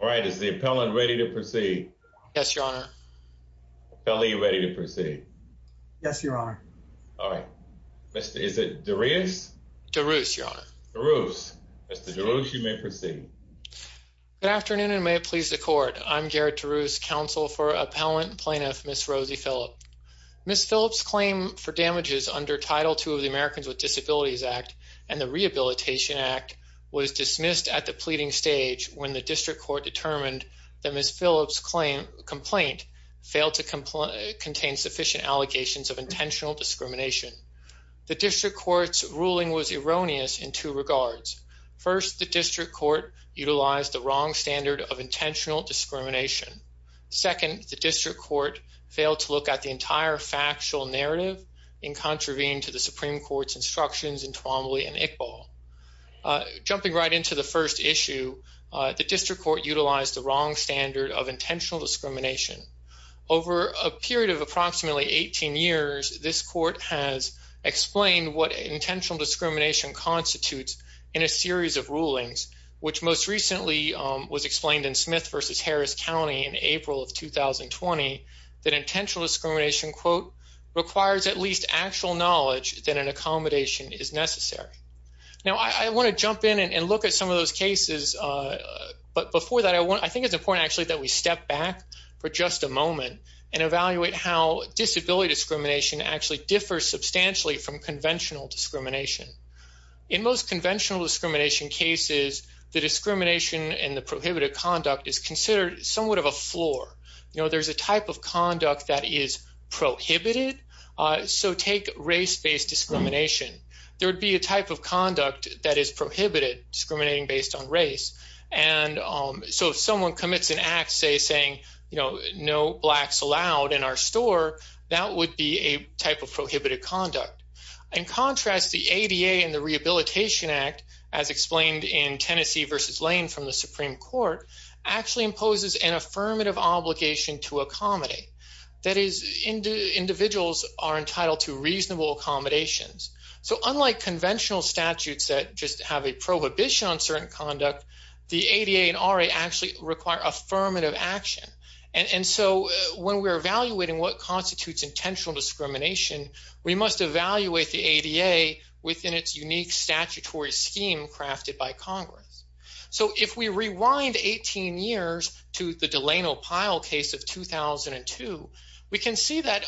All right. Is the appellant ready to proceed? Yes, Your Honor. Appellant, are you ready to proceed? Yes, Your Honor. All right. Mr. Is it Darius? Darius, Your Honor. Darius. Mr. Darius, you may proceed. Good afternoon and may it please the court. I'm Garrett Darius, Counsel for Appellant Plaintiff, Ms. Rosie Phillips. Ms. Phillips' claim for damages under Title II of the Americans with Disabilities Act and the Rehabilitation Act was dismissed at the pleading stage when the district court determined that Ms. Phillips' complaint failed to contain sufficient allegations of intentional discrimination. The district court's ruling was erroneous in two regards. First, the district court utilized the wrong standard of intentional discrimination. Second, the district court failed to look at the entire factual narrative in contravening to the Supreme Court's recommendations in Twombly and Iqbal. Jumping right into the first issue, the district court utilized the wrong standard of intentional discrimination. Over a period of approximately 18 years, this court has explained what intentional discrimination constitutes in a series of rulings, which most recently was explained in Smith v. Harris County in April of 2020 that intentional discrimination, quote, requires at least actual knowledge that an accommodation is necessary. Now, I want to jump in and look at some of those cases. But before that, I think it's important actually that we step back for just a moment and evaluate how disability discrimination actually differs substantially from conventional discrimination. In most conventional discrimination cases, the discrimination and the prohibited conduct is considered somewhat of a floor. You know, there's a type of conduct that is prohibited. So take race-based discrimination. There would be a type of conduct that is prohibited, discriminating based on race. And so if someone commits an act, say, saying, you know, no blacks allowed in our store, that would be a type of prohibited conduct. In contrast, the ADA and the Rehabilitation Act, as explained in Tennessee v. Lane from the Supreme Court, actually imposes an affirmative obligation to accommodate. That is, individuals are entitled to reasonable accommodations. So unlike conventional statutes that just have a prohibition on certain conduct, the ADA and RA actually require affirmative action. And so when we're evaluating what constitutes intentional discrimination, we must evaluate the ADA within its unique statutory scheme crafted by Congress. So if we rewind 18 years to the Delano Pyle case of 2002, we can see that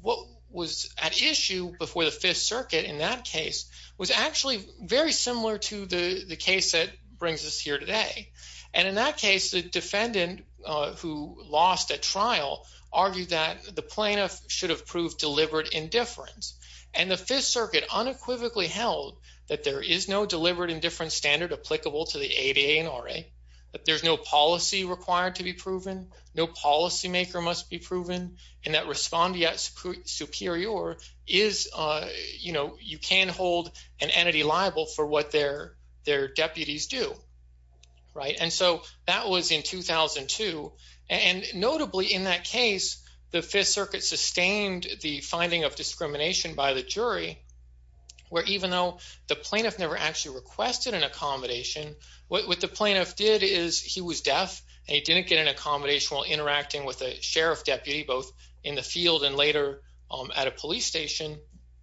what was at issue before the Fifth Circuit in that case was actually very similar to the case that brings us here today. And in that case, the defendant who lost at trial argued that the plaintiff should have proved deliberate indifference. And the Fifth Circuit unequivocally held that there is no deliberate indifference standard applicable to the ADA and RA, that no policy required to be proven, no policymaker must be proven, and that respondeat superior is, you know, you can't hold an entity liable for what their deputies do, right? And so that was in 2002. And notably in that case, the Fifth Circuit sustained the finding of discrimination by the jury, where even though the plaintiff never actually requested an accommodation, what the he was deaf, and he didn't get an accommodation while interacting with a sheriff deputy, both in the field and later at a police station.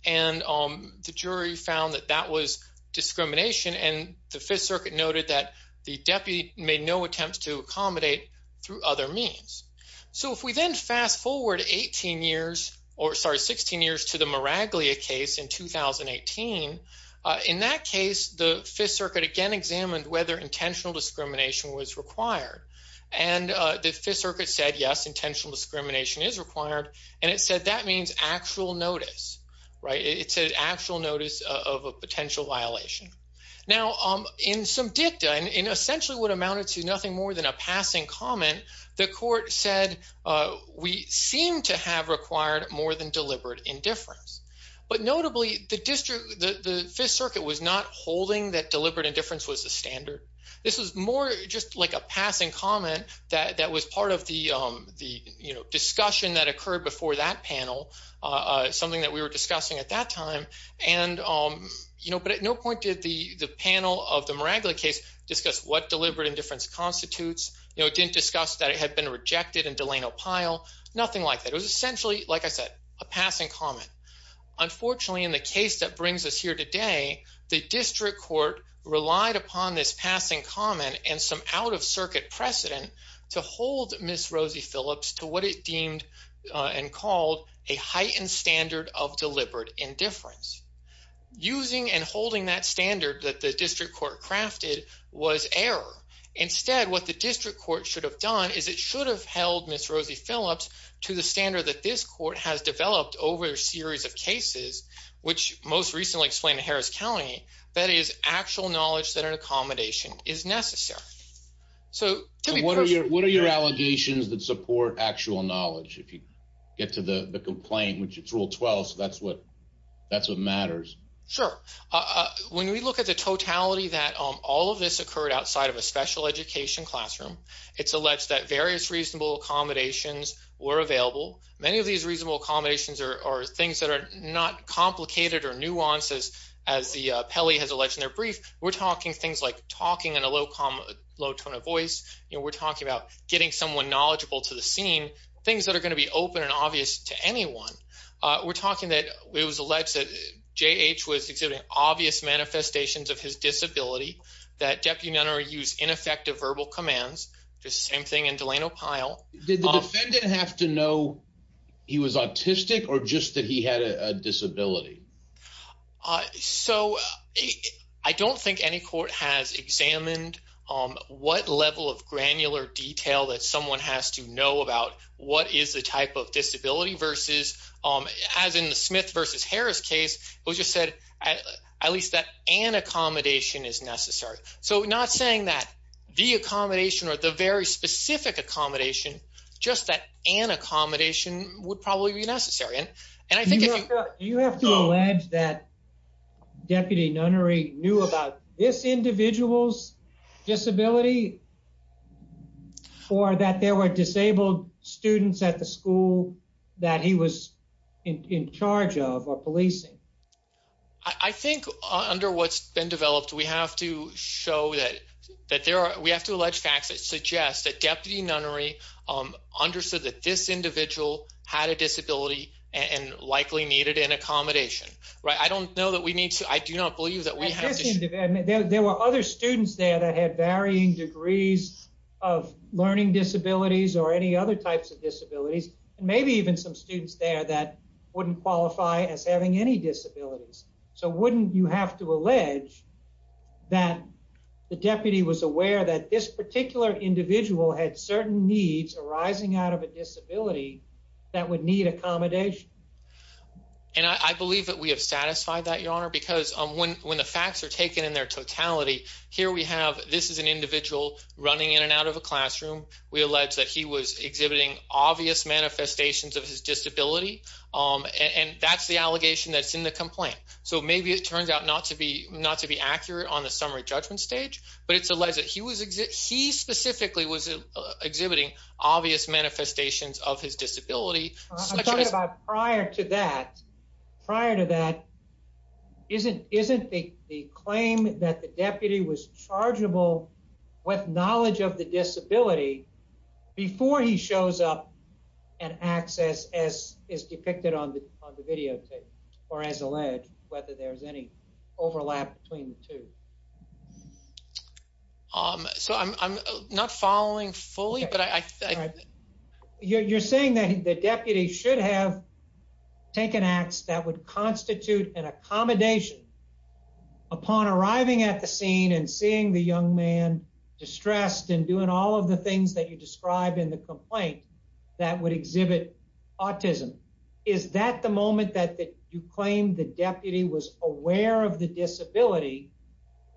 And the jury found that that was discrimination. And the Fifth Circuit noted that the deputy made no attempts to accommodate through other means. So if we then fast forward 18 years, or sorry, 16 years to the Miraglia case in 2018, in that case, the intentional discrimination was required. And the Fifth Circuit said, yes, intentional discrimination is required. And it said that means actual notice, right? It's an actual notice of a potential violation. Now, in some dicta, and essentially what amounted to nothing more than a passing comment, the court said, we seem to have required more than deliberate indifference. But notably, the district, the Fifth Circuit was not holding that deliberate indifference was a standard. This was more just like a passing comment that that was part of the, the, you know, discussion that occurred before that panel, something that we were discussing at that time. And, um, you know, but at no point did the the panel of the Miraglia case discuss what deliberate indifference constitutes, you know, didn't discuss that it had been rejected and Delano Pyle, nothing like that. It was essentially, like I said, a passing comment. Unfortunately, in the case that brings us here today, the district court relied upon this passing comment and some out of circuit precedent to hold Miss Rosie Phillips to what it deemed and called a heightened standard of deliberate indifference. Using and holding that standard that the district court crafted was error. Instead, what the district court should have done is it should have held Miss Rosie Phillips to the standard that this court has developed over a series of cases, which most recently explained Harris County, that is actual knowledge that an accommodation is necessary. So what are your allegations that support actual knowledge? If you get to the complaint, which it's rule 12, that's what that's what matters. Sure. When we look at the totality that all of this occurred outside of a special education classroom, it's alleged that various reasonable accommodations were available. Many of these reasonable accommodations are things that are not complicated or nuances. As the Pele has alleged in their brief, we're talking things like talking in a low, calm, low tone of voice. We're talking about getting someone knowledgeable to the scene, things that are going to be open and obvious to anyone. We're talking that it was alleged that J. H. Was exhibiting obvious manifestations of his disability that Deputy Nenner used ineffective verbal commands. Just same thing in Delano Pyle. Did the defendant have to know he was autistic or just that he had a disability? So I don't think any court has examined what level of granular detail that someone has to know about what is the type of disability versus, as in the Smith versus Harris case, it was just said at least that an accommodation is necessary. So not saying that the accommodation or the very specific accommodation, just that an accommodation would probably be Deputy Nennery knew about this individual's disability or that there were disabled students at the school that he was in charge of or policing. I think under what's been developed, we have to show that that there are, we have to allege facts that suggest that Deputy Nennery understood that this individual had a disability and likely needed an accommodation. Right? I don't know that we need to. I do not believe that we have. There were other students there that had varying degrees of learning disabilities or any other types of disabilities, maybe even some students there that wouldn't qualify as having any disabilities. So wouldn't you have to allege that the deputy was aware that this particular individual had certain needs arising out of a disability that would need accommodation? And I believe that we have satisfied that, Your Honor, because when the facts are taken in their totality, here we have, this is an individual running in and out of a classroom. We allege that he was exhibiting obvious manifestations of his disability, and that's the allegation that's in the complaint. So maybe it turns out not to be accurate on the summary judgment stage, but it's obvious manifestations of his disability. Prior to that, prior to that, isn't the claim that the deputy was chargeable with knowledge of the disability before he shows up and acts as is depicted on the videotape, or as alleged, whether there's any overlap between the two. Um, so I'm not following fully, but I think you're saying that the deputy should have taken acts that would constitute an accommodation upon arriving at the scene and seeing the young man distressed and doing all of the things that you describe in the complaint that would exhibit autism. Is that the moment that you claim the deputy was aware of the disability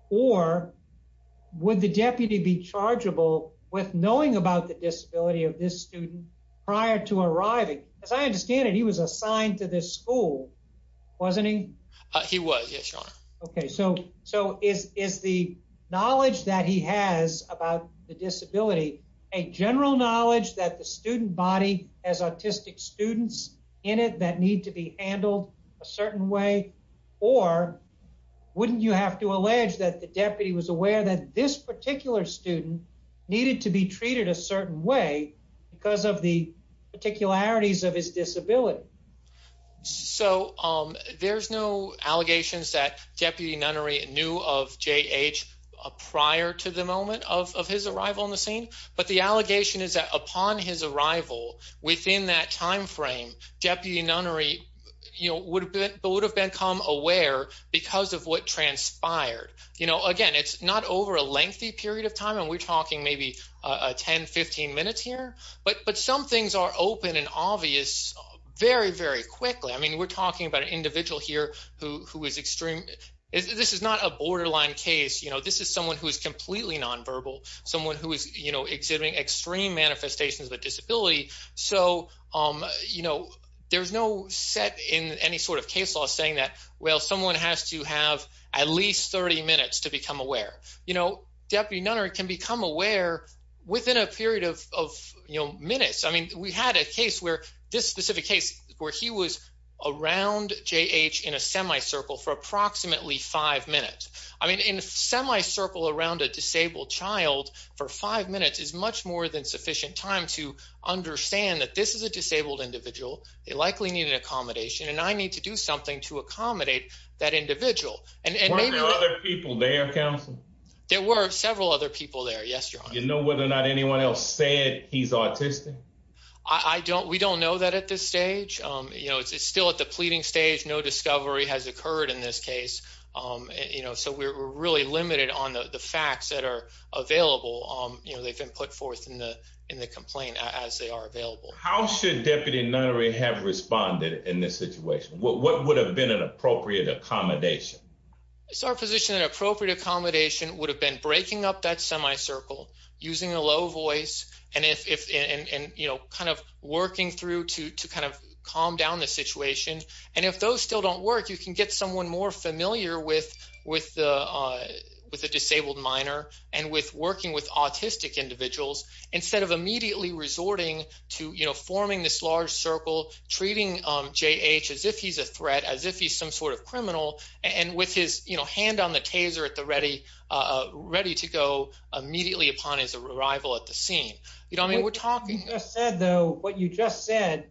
or would the deputy be chargeable with knowing about the disability of this student prior to arriving? As I understand it, he was assigned to this school, wasn't he? He was, yes, your honor. Okay, so is the knowledge that he has about the disability a general knowledge that the student body has autistic students in it that need to be handled a certain way? Or wouldn't you have to allege that the deputy was aware that this particular student needed to be treated a certain way because of the particularities of his disability? So, um, there's no allegations that Deputy Nunnery knew of J. H. Prior to the moment of his arrival on the scene. But the allegation is that upon his arrival within that time frame, Deputy Nunnery, you know, would have been come aware because of what transpired. You know, again, it's not over a lengthy period of time, and we're talking maybe 10-15 minutes here. But some things are open and obvious very, very quickly. I mean, we're talking about an individual here who is extreme. This is not a borderline case. You know, this is someone who is completely nonverbal, someone who is, you know, exhibiting extreme manifestations of a disability. So, um, you know, there's no set in any sort of case law saying that, well, someone has to have at least 30 minutes to become aware. You know, Deputy Nunnery can become aware within a period of minutes. I mean, we had a case where this specific case where he was around J. H. In a semi circle for approximately five minutes. I mean, in semi circle around a disabled child for five minutes is much more than sufficient time to understand that this is a disabled individual. They likely need an accommodation, and I need to do something to accommodate that individual. And there were several other people there yesterday. You know whether or not anyone else said he's autistic. I don't. We don't know that at this stage. You know, it's still at the pleading stage. No discovery has occurred in this case. Um, you know, so we're really limited on the facts that are available. You know, they've been put forth in the in the complaint as they are available. How should Deputy Nunnery have responded in this situation? What would have been an appropriate accommodation? It's our position. An appropriate accommodation would have been breaking up that semi circle using a low voice and if and, you know, kind of working through to to kind of calm down the situation. And if those still don't work, you can get someone more familiar with with, uh, with a disabled minor and with working with autistic individuals instead of immediately resorting to, you know, forming this large circle treating J. H. As if he's a threat, as if he's some sort of criminal and with his hand on the taser at the ready, ready to go immediately upon his arrival at the scene. You know, I mean, we're talking just said, though, what you just said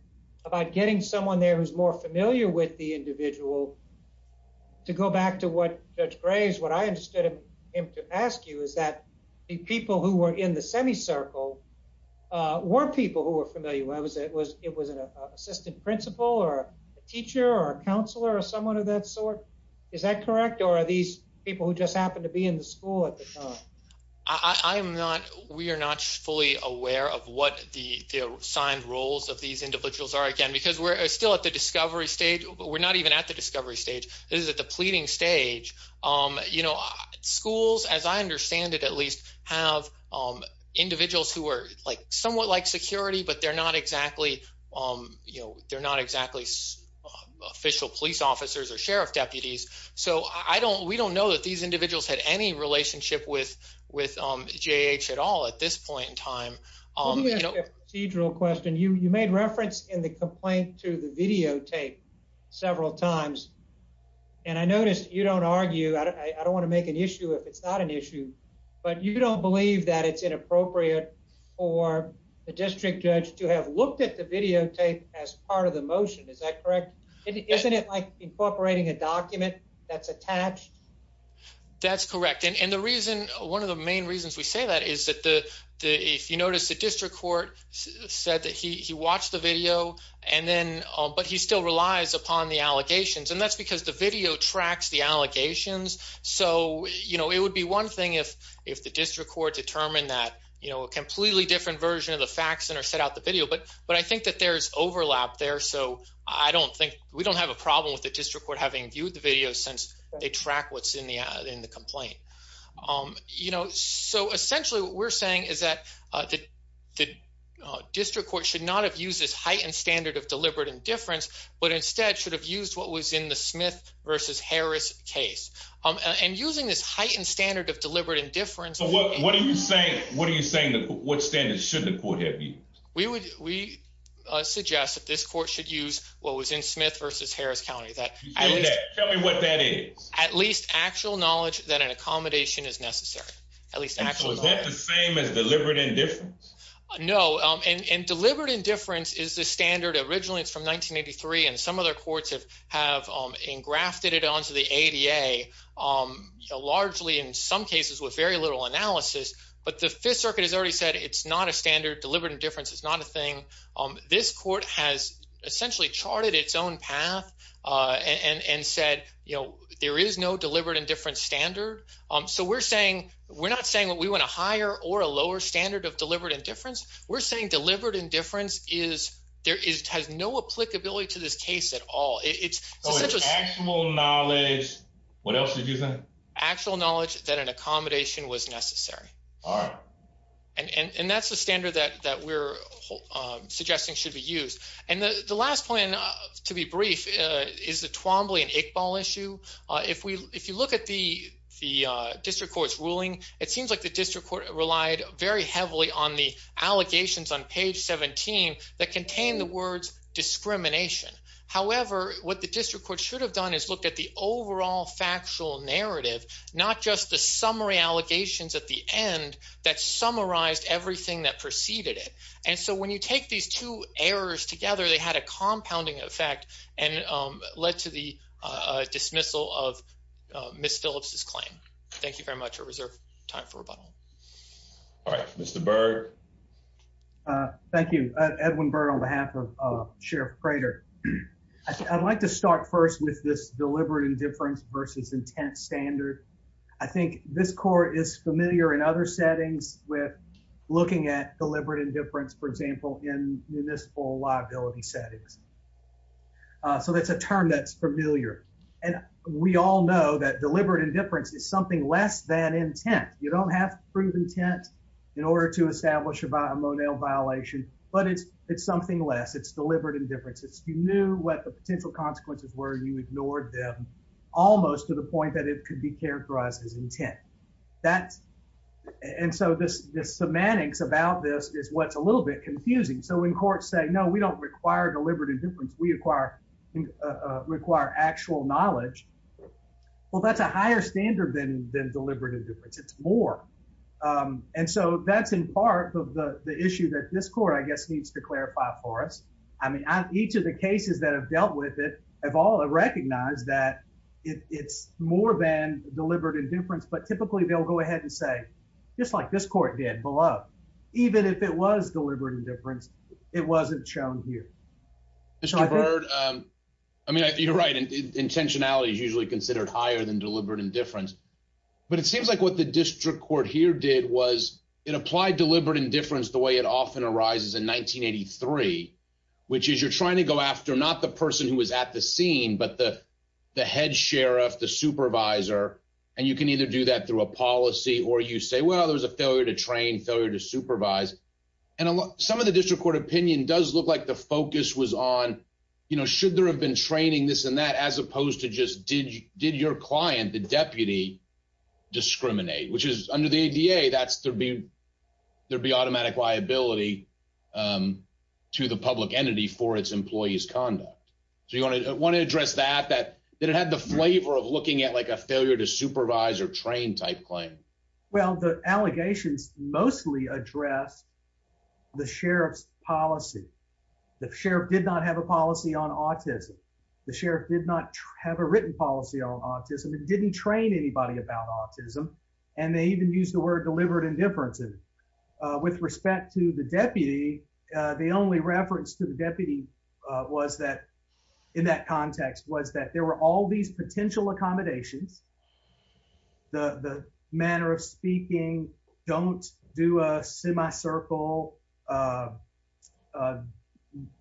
about getting someone there who's more familiar with the individual to go back to what Judge Graves, what I understood him to ask you is that the people who were in the semi circle, uh, were people who were familiar. I was. It was. It was an assistant principal or teacher or counselor or someone of that sort. Is that correct? Or are these people who just happened to be in the school at the time? I'm not. We're not fully aware of what the signed roles of these individuals are again, because we're still at the discovery stage. We're not even at the discovery stage is at the pleading stage. Um, you know, schools, as I understand it, at least have individuals who were like somewhat like security, but they're not exactly. Um, you know, they're not exactly official police officers or sheriff deputies. So I don't we don't know that these individuals had any relationship with with J. H. At all. At this point in time, you know, procedural question. You made reference in the complaint to the videotape several times, and I noticed you don't argue. I don't want to make an issue if it's not an issue, but you don't believe that it's inappropriate for the district judge to have looked at the videotape as part of the motion. Is that correct? Isn't it like incorporating a document that's attached? That's correct. And the reason one of the main reasons we say that is that the if you notice, the district court said that he watched the video and then but he still relies upon the allegations, and that's because the video tracks the allegations. So, you know, it would be one thing if if the district court determined that, you know, a completely different version of the facts and or set out the video. But but I think that there's overlap there. So I don't think we don't have a problem with the district court having viewed the video since they track what's in the in the Um, you know, so essentially what we're saying is that, uh, that the district court should not have used this heightened standard of deliberate indifference, but instead should have used what was in the Smith versus Harris case. Um, and using this heightened standard of deliberate indifference. What are you saying? What are you saying? What standards should the court have? We would. We suggest that this court should use what was in Smith versus Harris County. That tell me what that is. At least actual knowledge that an accommodation is necessary, at least actually the same as deliberate indifference. No, and deliberate indifference is the standard. Originally, it's from 1983, and some other courts have have engrafted it onto the A. D. A. Um, largely in some cases with very little analysis. But the Fifth Circuit has already said it's not a standard. Deliberate indifference is not a thing. Um, this court has essentially charted its own path, uh, and and said, you know, there is no deliberate indifference standard. Um, so we're saying we're not saying what we want to hire or a lower standard of deliberate indifference. We're saying deliberate indifference is there is has no applicability to this case at all. It's such a small knowledge. What else did you think? Actual knowledge that an accommodation was necessary. All right, and that's the standard that that we're suggesting should be used. And the last point to be brief is the Twombly and Iqbal issue. If we if you look at the the district court's ruling, it seems like the district court relied very heavily on the allegations on page 17 that contain the words discrimination. However, what the district court should have done is looked at the overall factual narrative, not just the summary allegations at the end that summarized everything that preceded it. And so when you take these two errors together, they had a compounding effect and led to the dismissal of Miss Phillips's claim. Thank you very much. A reserve time for rebuttal. All right, Mr Berg. Uh, thank you, Edwin Bird on behalf of Sheriff Prater. I'd like to start first with this deliberate indifference versus intense standard. I think this court is in municipal liability settings, so that's a term that's familiar. And we all know that deliberate indifference is something less than intent. You don't have proof intent in order to establish about a monel violation, but it's it's something less. It's deliberate indifference. It's you knew what the potential consequences were. You ignored them almost to the point that it could be characterized as intent. That's and so this semantics about this is what's a little bit confusing. So in court, say no, we don't require deliberate indifference. We acquire require actual knowledge. Well, that's a higher standard than deliberate indifference. It's more. Um, and so that's in part of the issue that this court, I guess, needs to clarify for us. I mean, each of the cases that have dealt with it have all recognized that it's more than deliberate indifference. But typically, they'll go ahead and say, just like this court did below, even if it was deliberate indifference, it wasn't shown here. It's a bird. I mean, you're right. Intentionality is usually considered higher than deliberate indifference. But it seems like what the district court here did was it applied deliberate indifference the way it often arises in 1983, which is you're trying to go after not the person who was at the scene, but the head sheriff, the supervisor. And you can either do that through a policy or you say, Well, there's a failure to train failure to supervise. And some of the district court opinion does look like the focus was on, you know, should there have been training this and that, as opposed to just did did your client, the deputy discriminate, which is under the A. D. A. That's there be there be automatic liability, um, to the public entity for its employees conduct. So you want to want to address that that it had the labor of looking at, like a failure to supervise or train type claim. Well, the allegations mostly address the sheriff's policy. The sheriff did not have a policy on autism. The sheriff did not have a written policy on autism. It didn't train anybody about autism, and they even used the word deliberate indifference. And with respect to the deputy, the only reference to the accommodations the manner of speaking. Don't do a semi circle. Uh, uh,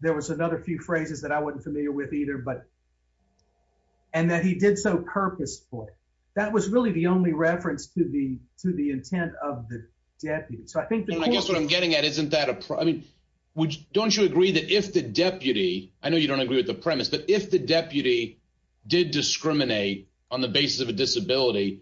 there was another few phrases that I wasn't familiar with either, but and that he did so purposefully. That was really the only reference to the to the intent of the deputy. So I think that's what I'm getting at. Isn't that a problem? Don't you agree that if the deputy I know you don't agree with the on the basis of a disability,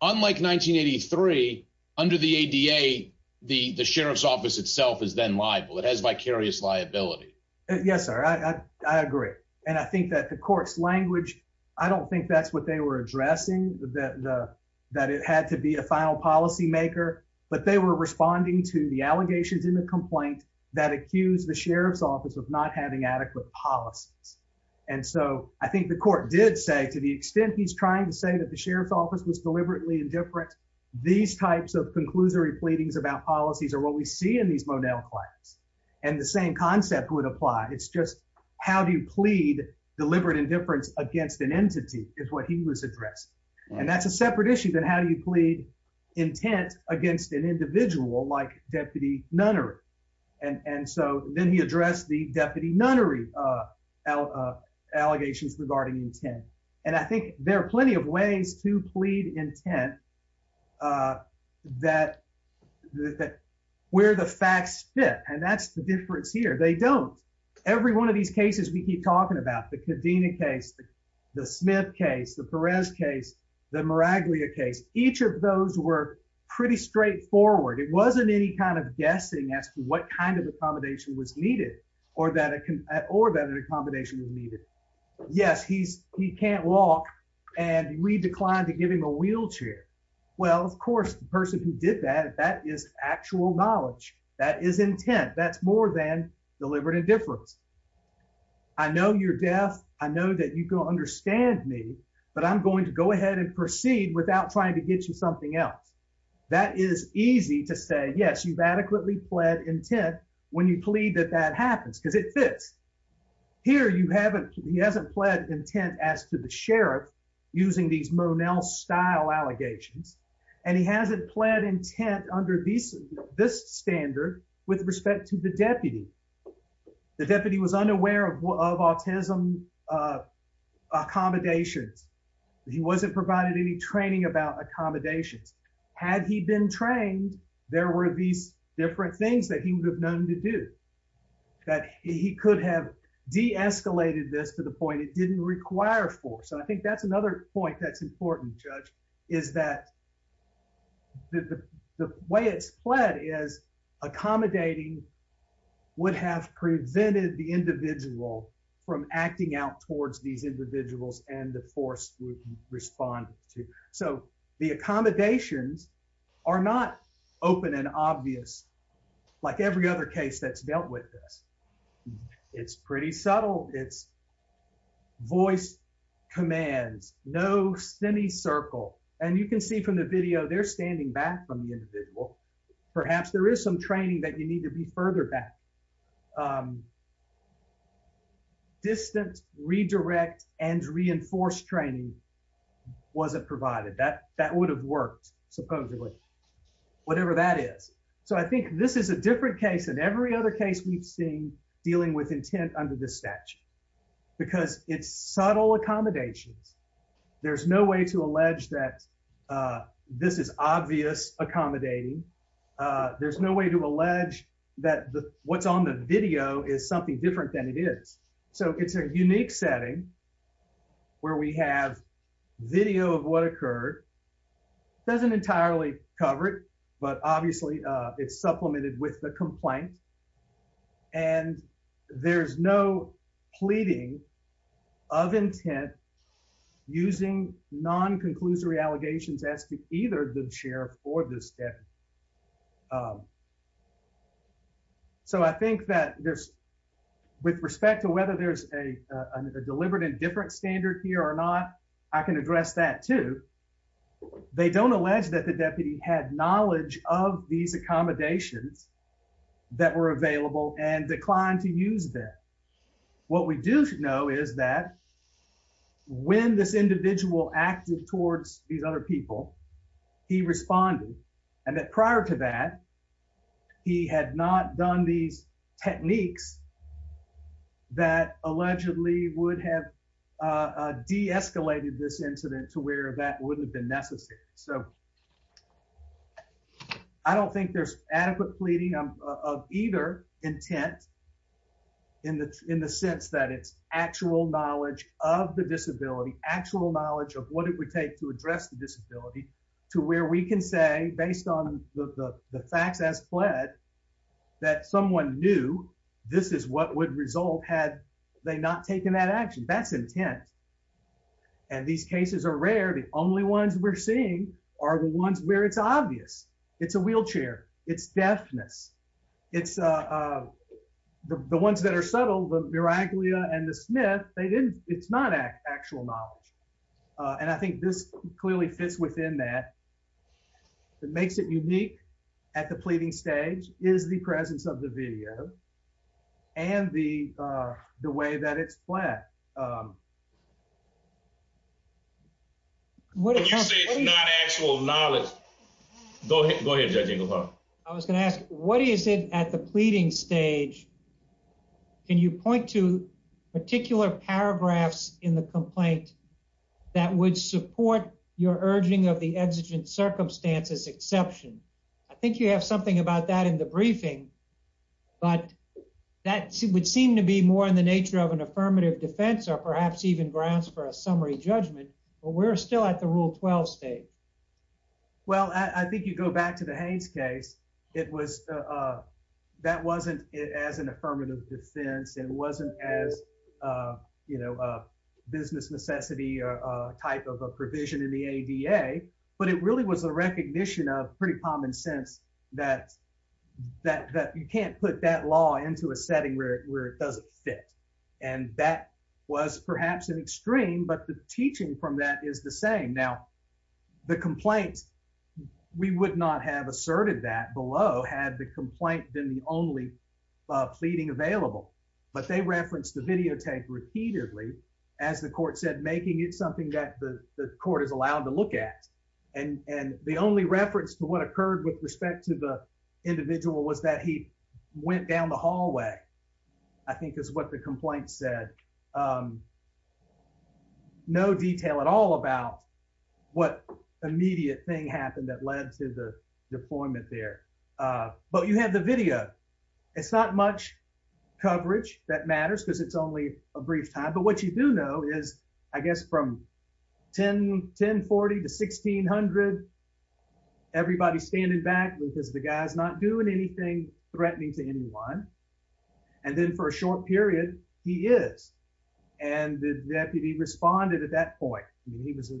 unlike 1983 under the A. D. A. The sheriff's office itself is then liable. It has vicarious liability. Yes, sir. I agree. And I think that the court's language I don't think that's what they were addressing that that it had to be a final policymaker. But they were responding to the allegations in the complaint that accused the sheriff's office of not having adequate policies. And so I think the court did say to the extent he's trying to say that the sheriff's office was deliberately indifferent. These types of conclusory pleadings about policies or what we see in these Monell clients and the same concept would apply. It's just how do you plead deliberate indifference against an entity is what he was addressed. And that's a separate issue than how you plead intent against an individual like deputy nunnery. And so then he addressed the deputy nunnery, uh, allegations regarding intent. And I think there are plenty of ways to plead intent, uh, that that where the facts fit. And that's the difference here. They don't. Every one of these cases we keep talking about the cadena case, the Smith case, the Perez case, the Miraglia case. Each of those were pretty straightforward. It wasn't any kind of guessing as to what kind of accommodation was needed. Yes, he's he can't walk and we declined to give him a wheelchair. Well, of course, the person who did that, that is actual knowledge. That is intent. That's more than deliberate indifference. I know you're deaf. I know that you can understand me, but I'm going to go ahead and proceed without trying to get you something else. That is easy to say. Yes, you've adequately fled intent when you plead that that happens because it here you haven't. He hasn't pled intent as to the sheriff using these Monell style allegations, and he hasn't pled intent under these this standard with respect to the deputy. The deputy was unaware of autism, uh, accommodations. He wasn't provided any training about accommodations. Had he been trained, there were these different things that he would have known to do that he could have de escalated this to the point it didn't require for. So I think that's another point that's important, Judge, is that the way it's pled is accommodating would have prevented the individual from acting out towards these individuals and the force would respond to. So the open and obvious, like every other case that's dealt with this, it's pretty subtle. It's voice commands. No semi circle. And you can see from the video they're standing back from the individual. Perhaps there is some training that you need to be further back. Um, distance, redirect and reinforce training wasn't provided that that would have worked, supposedly, whatever that is. So I think this is a different case than every other case we've seen dealing with intent under this statute because it's subtle accommodations. There's no way to allege that, uh, this is obvious accommodating. There's no way to allege that what's on the video is something different than it is. So it's a unique setting where we have video of what occurred doesn't entirely cover it, but obviously it's supplemented with the complaint, and there's no pleading of intent using non conclusory allegations as to either the sheriff or this step. Um, so I think that there's with respect to whether there's a deliberate and different standard here or not, I can address that, too. They don't allege that the deputy had knowledge of these accommodations that were available and declined to use that. What we do know is that when this individual acted towards these other people, he responded and that prior to that he had not done these techniques that allegedly would have, uh, de escalated this incident to where that wouldn't have been necessary. So I don't think there's adequate pleading of either intent in the in the sense that it's actual knowledge of the disability, actual knowledge of what it would take to address the disability to where we can say, based on the facts as fled that someone knew this is what would result had they not taken that action. That's intent. And these cases are rare. The only ones we're seeing are the ones where it's obvious it's a wheelchair. It's deafness. It's, uh, the ones that are on. I think this clearly fits within that that makes it unique at the pleading stage is the presence of the video and the way that it's flat. What do you say? It's not actual knowledge. Go ahead. Go ahead. I was gonna ask. What is it at the pleading stage? Can you point to particular paragraphs in the complaint that would support your urging of the exigent circumstances exception? I think you have something about that in the briefing, but that would seem to be more in the nature of an affirmative defense or perhaps even grounds for a summary judgment. But we're still at the Rule 12 state. Well, I think you go back to the Haynes case. It was, uh, that wasn't as an type of a provision in the A. D. A. But it really was a recognition of pretty common sense that that you can't put that law into a setting where it doesn't fit. And that was perhaps an extreme. But the teaching from that is the same. Now, the complaints we would not have asserted that below had the complaint than the only pleading available. But they referenced the the court is allowed to look at, and the only reference to what occurred with respect to the individual was that he went down the hallway, I think, is what the complaint said. Um, no detail at all about what immediate thing happened that led to the deployment there. But you have the video. It's not much coverage that 10 10 40 to 1600. Everybody's standing back because the guy's not doing anything threatening to anyone. And then, for a short period, he is. And the deputy responded at that point. He was.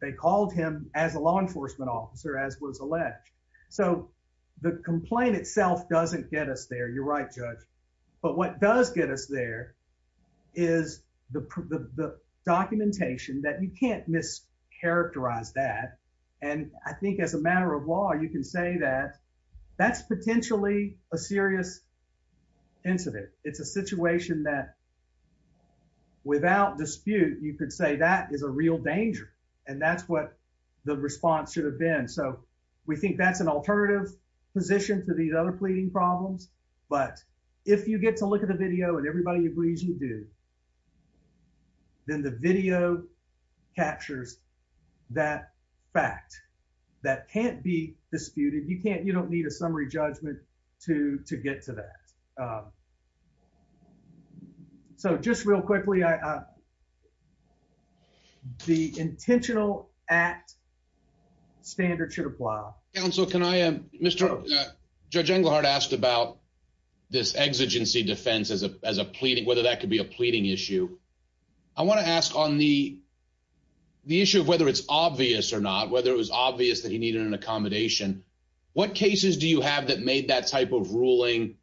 They called him as a law enforcement officer, as was alleged. So the complaint itself doesn't get us there. You're right, Judge. But what does get us there is the documentation that you can't mischaracterize that. And I think as a matter of law, you can say that that's potentially a serious incident. It's a situation that without dispute, you could say that is a real danger, and that's what the response should have been. So we think that's an alternative position to these other pleading problems. But if you get to look at the video and everybody agrees you do, then the video captures that fact that can't be disputed. You can't. You don't need a summary judgment to to get to that. So just real quickly, I the intentional act standard should apply. Council. Can I am Mr. Judge Englehart asked about this exigency defense is a pleading whether that could be a pleading issue. I want to ask on the the issue of whether it's obvious or not, whether it was obvious that he needed an accommodation. What cases do you have that made that type of ruling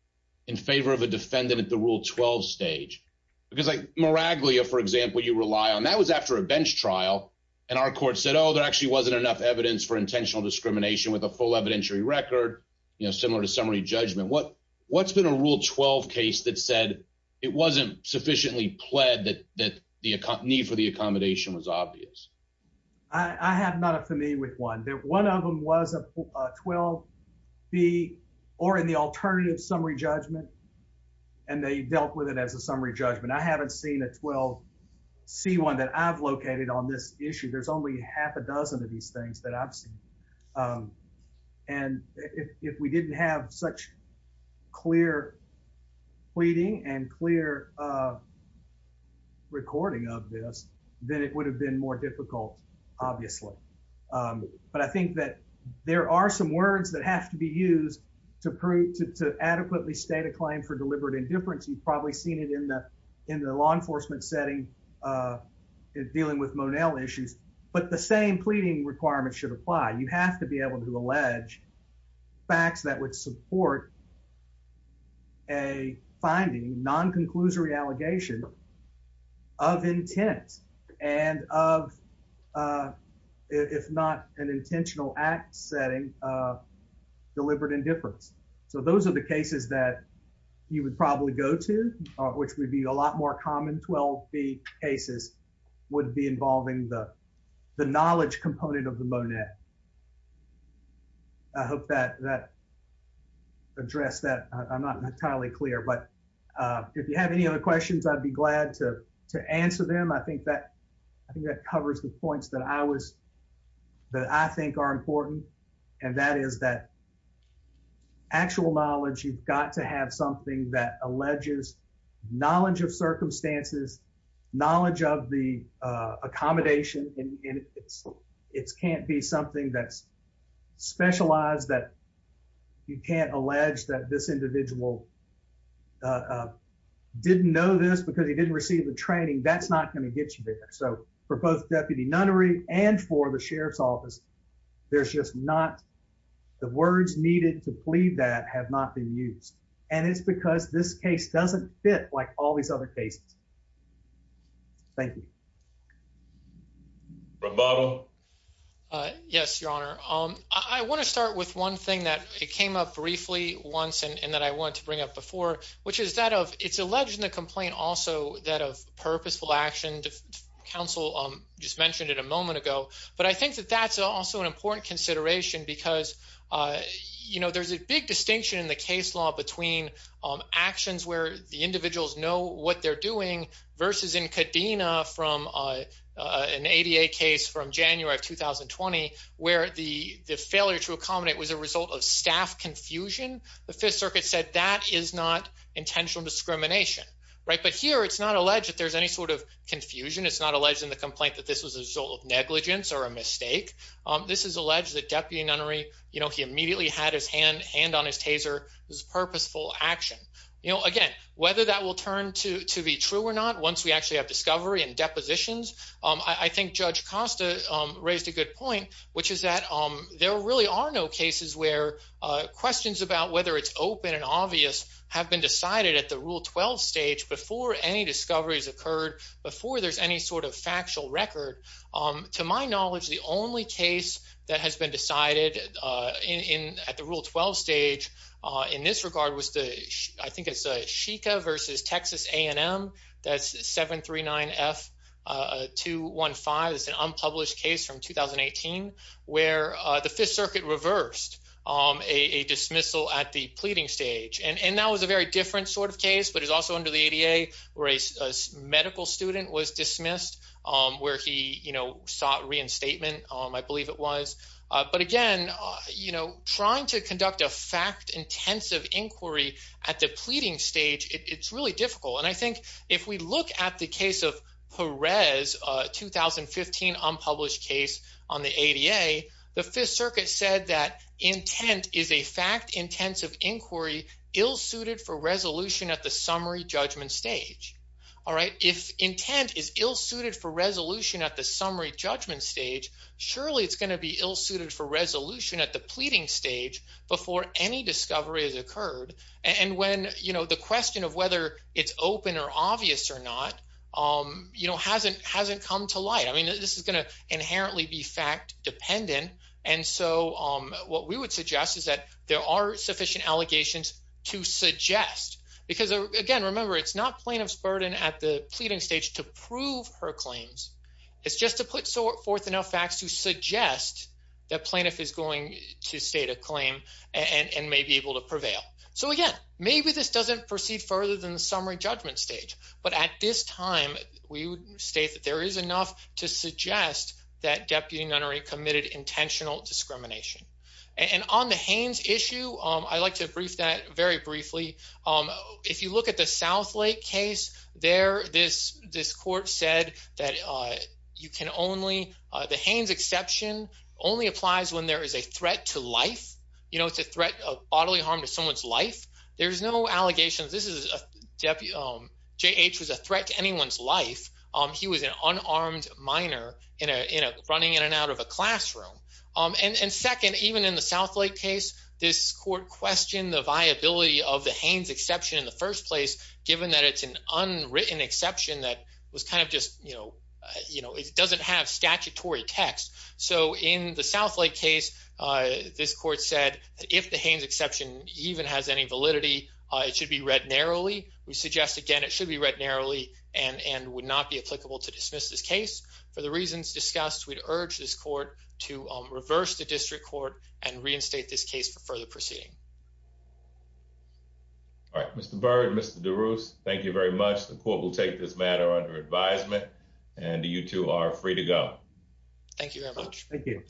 in favor of a defendant at the Rule 12 stage? Because like Miraglia, for example, you rely on. That was after a bench trial, and our court said, Oh, there actually wasn't enough evidence for intentional discrimination with a full evidentiary record. You know, similar to summary judgment. What What's in a Rule 12 case that said it wasn't sufficiently pled that that the company for the accommodation was obvious? I have not a familiar with one that one of them was a 12 B or in the alternative summary judgment, and they dealt with it as a summary judgment. I haven't seen a 12 C one that I've located on this issue. There's only half a dozen of these things that I've Um, and if we didn't have such clear pleading and clear, uh, recording of this, then it would have been more difficult, obviously. Um, but I think that there are some words that have to be used to prove to adequately state a claim for deliberate indifference. You've probably seen it in the in the law enforcement setting, uh, dealing with Monell issues. But the same pleading requirements should apply. You have to be able to allege facts that would support a finding non conclusory allegation of intent and of, uh, if not an intentional act setting, uh, deliberate indifference. So those are the cases that you would probably go to, which would be a lot more common. 12 B cases would be involving the knowledge component of the Monette. I hope that that address that I'm not entirely clear. But, uh, if you have any other questions, I'd be glad toe to answer them. I think that I think that covers the points that I was that I think are important, and that is that actual knowledge. You've got to have something that alleges knowledge of it can't be something that's specialized that you can't allege that this individual uh, didn't know this because he didn't receive the training. That's not gonna get you there. So for both deputy nunnery and for the sheriff's office, there's just not the words needed to plead that have not been used. And it's because this case doesn't fit like all these other cases. Thank you. Roboto. Uh, yes, Your Honor. Um, I want to start with one thing that it came up briefly once and that I want to bring up before, which is that of it's alleged in the complaint. Also, that of purposeful action. Council just mentioned it a moment ago. But I think that that's also an important consideration because, uh, you know, there's a big distinction in the case law between actions where the individuals know what they're doing versus in Kadena from, uh, an 88 case from January of 2020 where the failure to accommodate was a result of staff confusion. The Fifth Circuit said that is not intentional discrimination, right? But here it's not alleged that there's any sort of confusion. It's not alleged in the complaint that this was a result of negligence or a mistake. Um, this is alleged that deputy nunnery, you know, he immediately had his hand hand on his taser was purposeful action. You know, again, whether that will turn to to be true or not, once we actually have discovery and depositions, I think Judge Costa raised a good point, which is that there really are no cases where questions about whether it's open and obvious have been decided at the Rule 12 stage before any discoveries occurred before there's any sort of factual record. Um, to my knowledge, the only case that has been decided in at the Rule 12 stage in this I think it's a Sheikha versus Texas A. N. M. That's 739 F. Uh, 215 is an unpublished case from 2018 where the Fifth Circuit reversed a dismissal at the pleading stage. And that was a very different sort of case. But it's also under the 88 race. Medical student was dismissed where he, you know, sought reinstatement. I believe it was. But again, you know, trying to conduct a fact intensive inquiry at the pleading stage, it's really difficult. And I think if we look at the case of Perez 2015 unpublished case on the 88, the Fifth Circuit said that intent is a fact intensive inquiry ill suited for resolution at the summary judgment stage. All right, if intent is ill suited for resolution at the summary judgment stage, surely it's gonna be ill suited for resolution at the pleading stage before any discovery has occurred. And when you know the question of whether it's open or obvious or not, um, you know, hasn't hasn't come to light. I mean, this is gonna inherently be fact dependent. And so, um, what we would suggest is that there are sufficient allegations to suggest because again, remember, it's not plaintiff's burden at the pleading stage to prove her claims. It's just to put forth enough facts to jest that plaintiff is going to state a claim and may be able to prevail. So again, maybe this doesn't proceed further than the summary judgment stage. But at this time, we would state that there is enough to suggest that deputy nunnery committed intentional discrimination. And on the Haynes issue, I'd like to brief that very briefly. Um, if you look at the South Lake case there, this this court said that, uh, you can only the Haynes exception only applies when there is a threat to life. You know, it's a threat of bodily harm to someone's life. There's no allegations. This is a deputy. Um, J. H. Was a threat to anyone's life. Um, he was an unarmed minor in a running in and out of a classroom. Um, and second, even in the South Lake case, this court questioned the viability of the Haynes exception in the first place, given that it's an unwritten exception that was kind of just, you know, you know, it doesn't have statutory text. So in the South Lake case, uh, this court said that if the Haynes exception even has any validity, it should be read narrowly. We suggest again, it should be read narrowly and and would not be applicable to dismiss this case. For the reasons discussed, we'd urge this court to reverse the district court and reinstate this case for further proceeding. All right, Mr Bird. Mr DeRose, thank you very much. The court will take this matter under advisement and you two are free to go. Thank you very much. Thank you.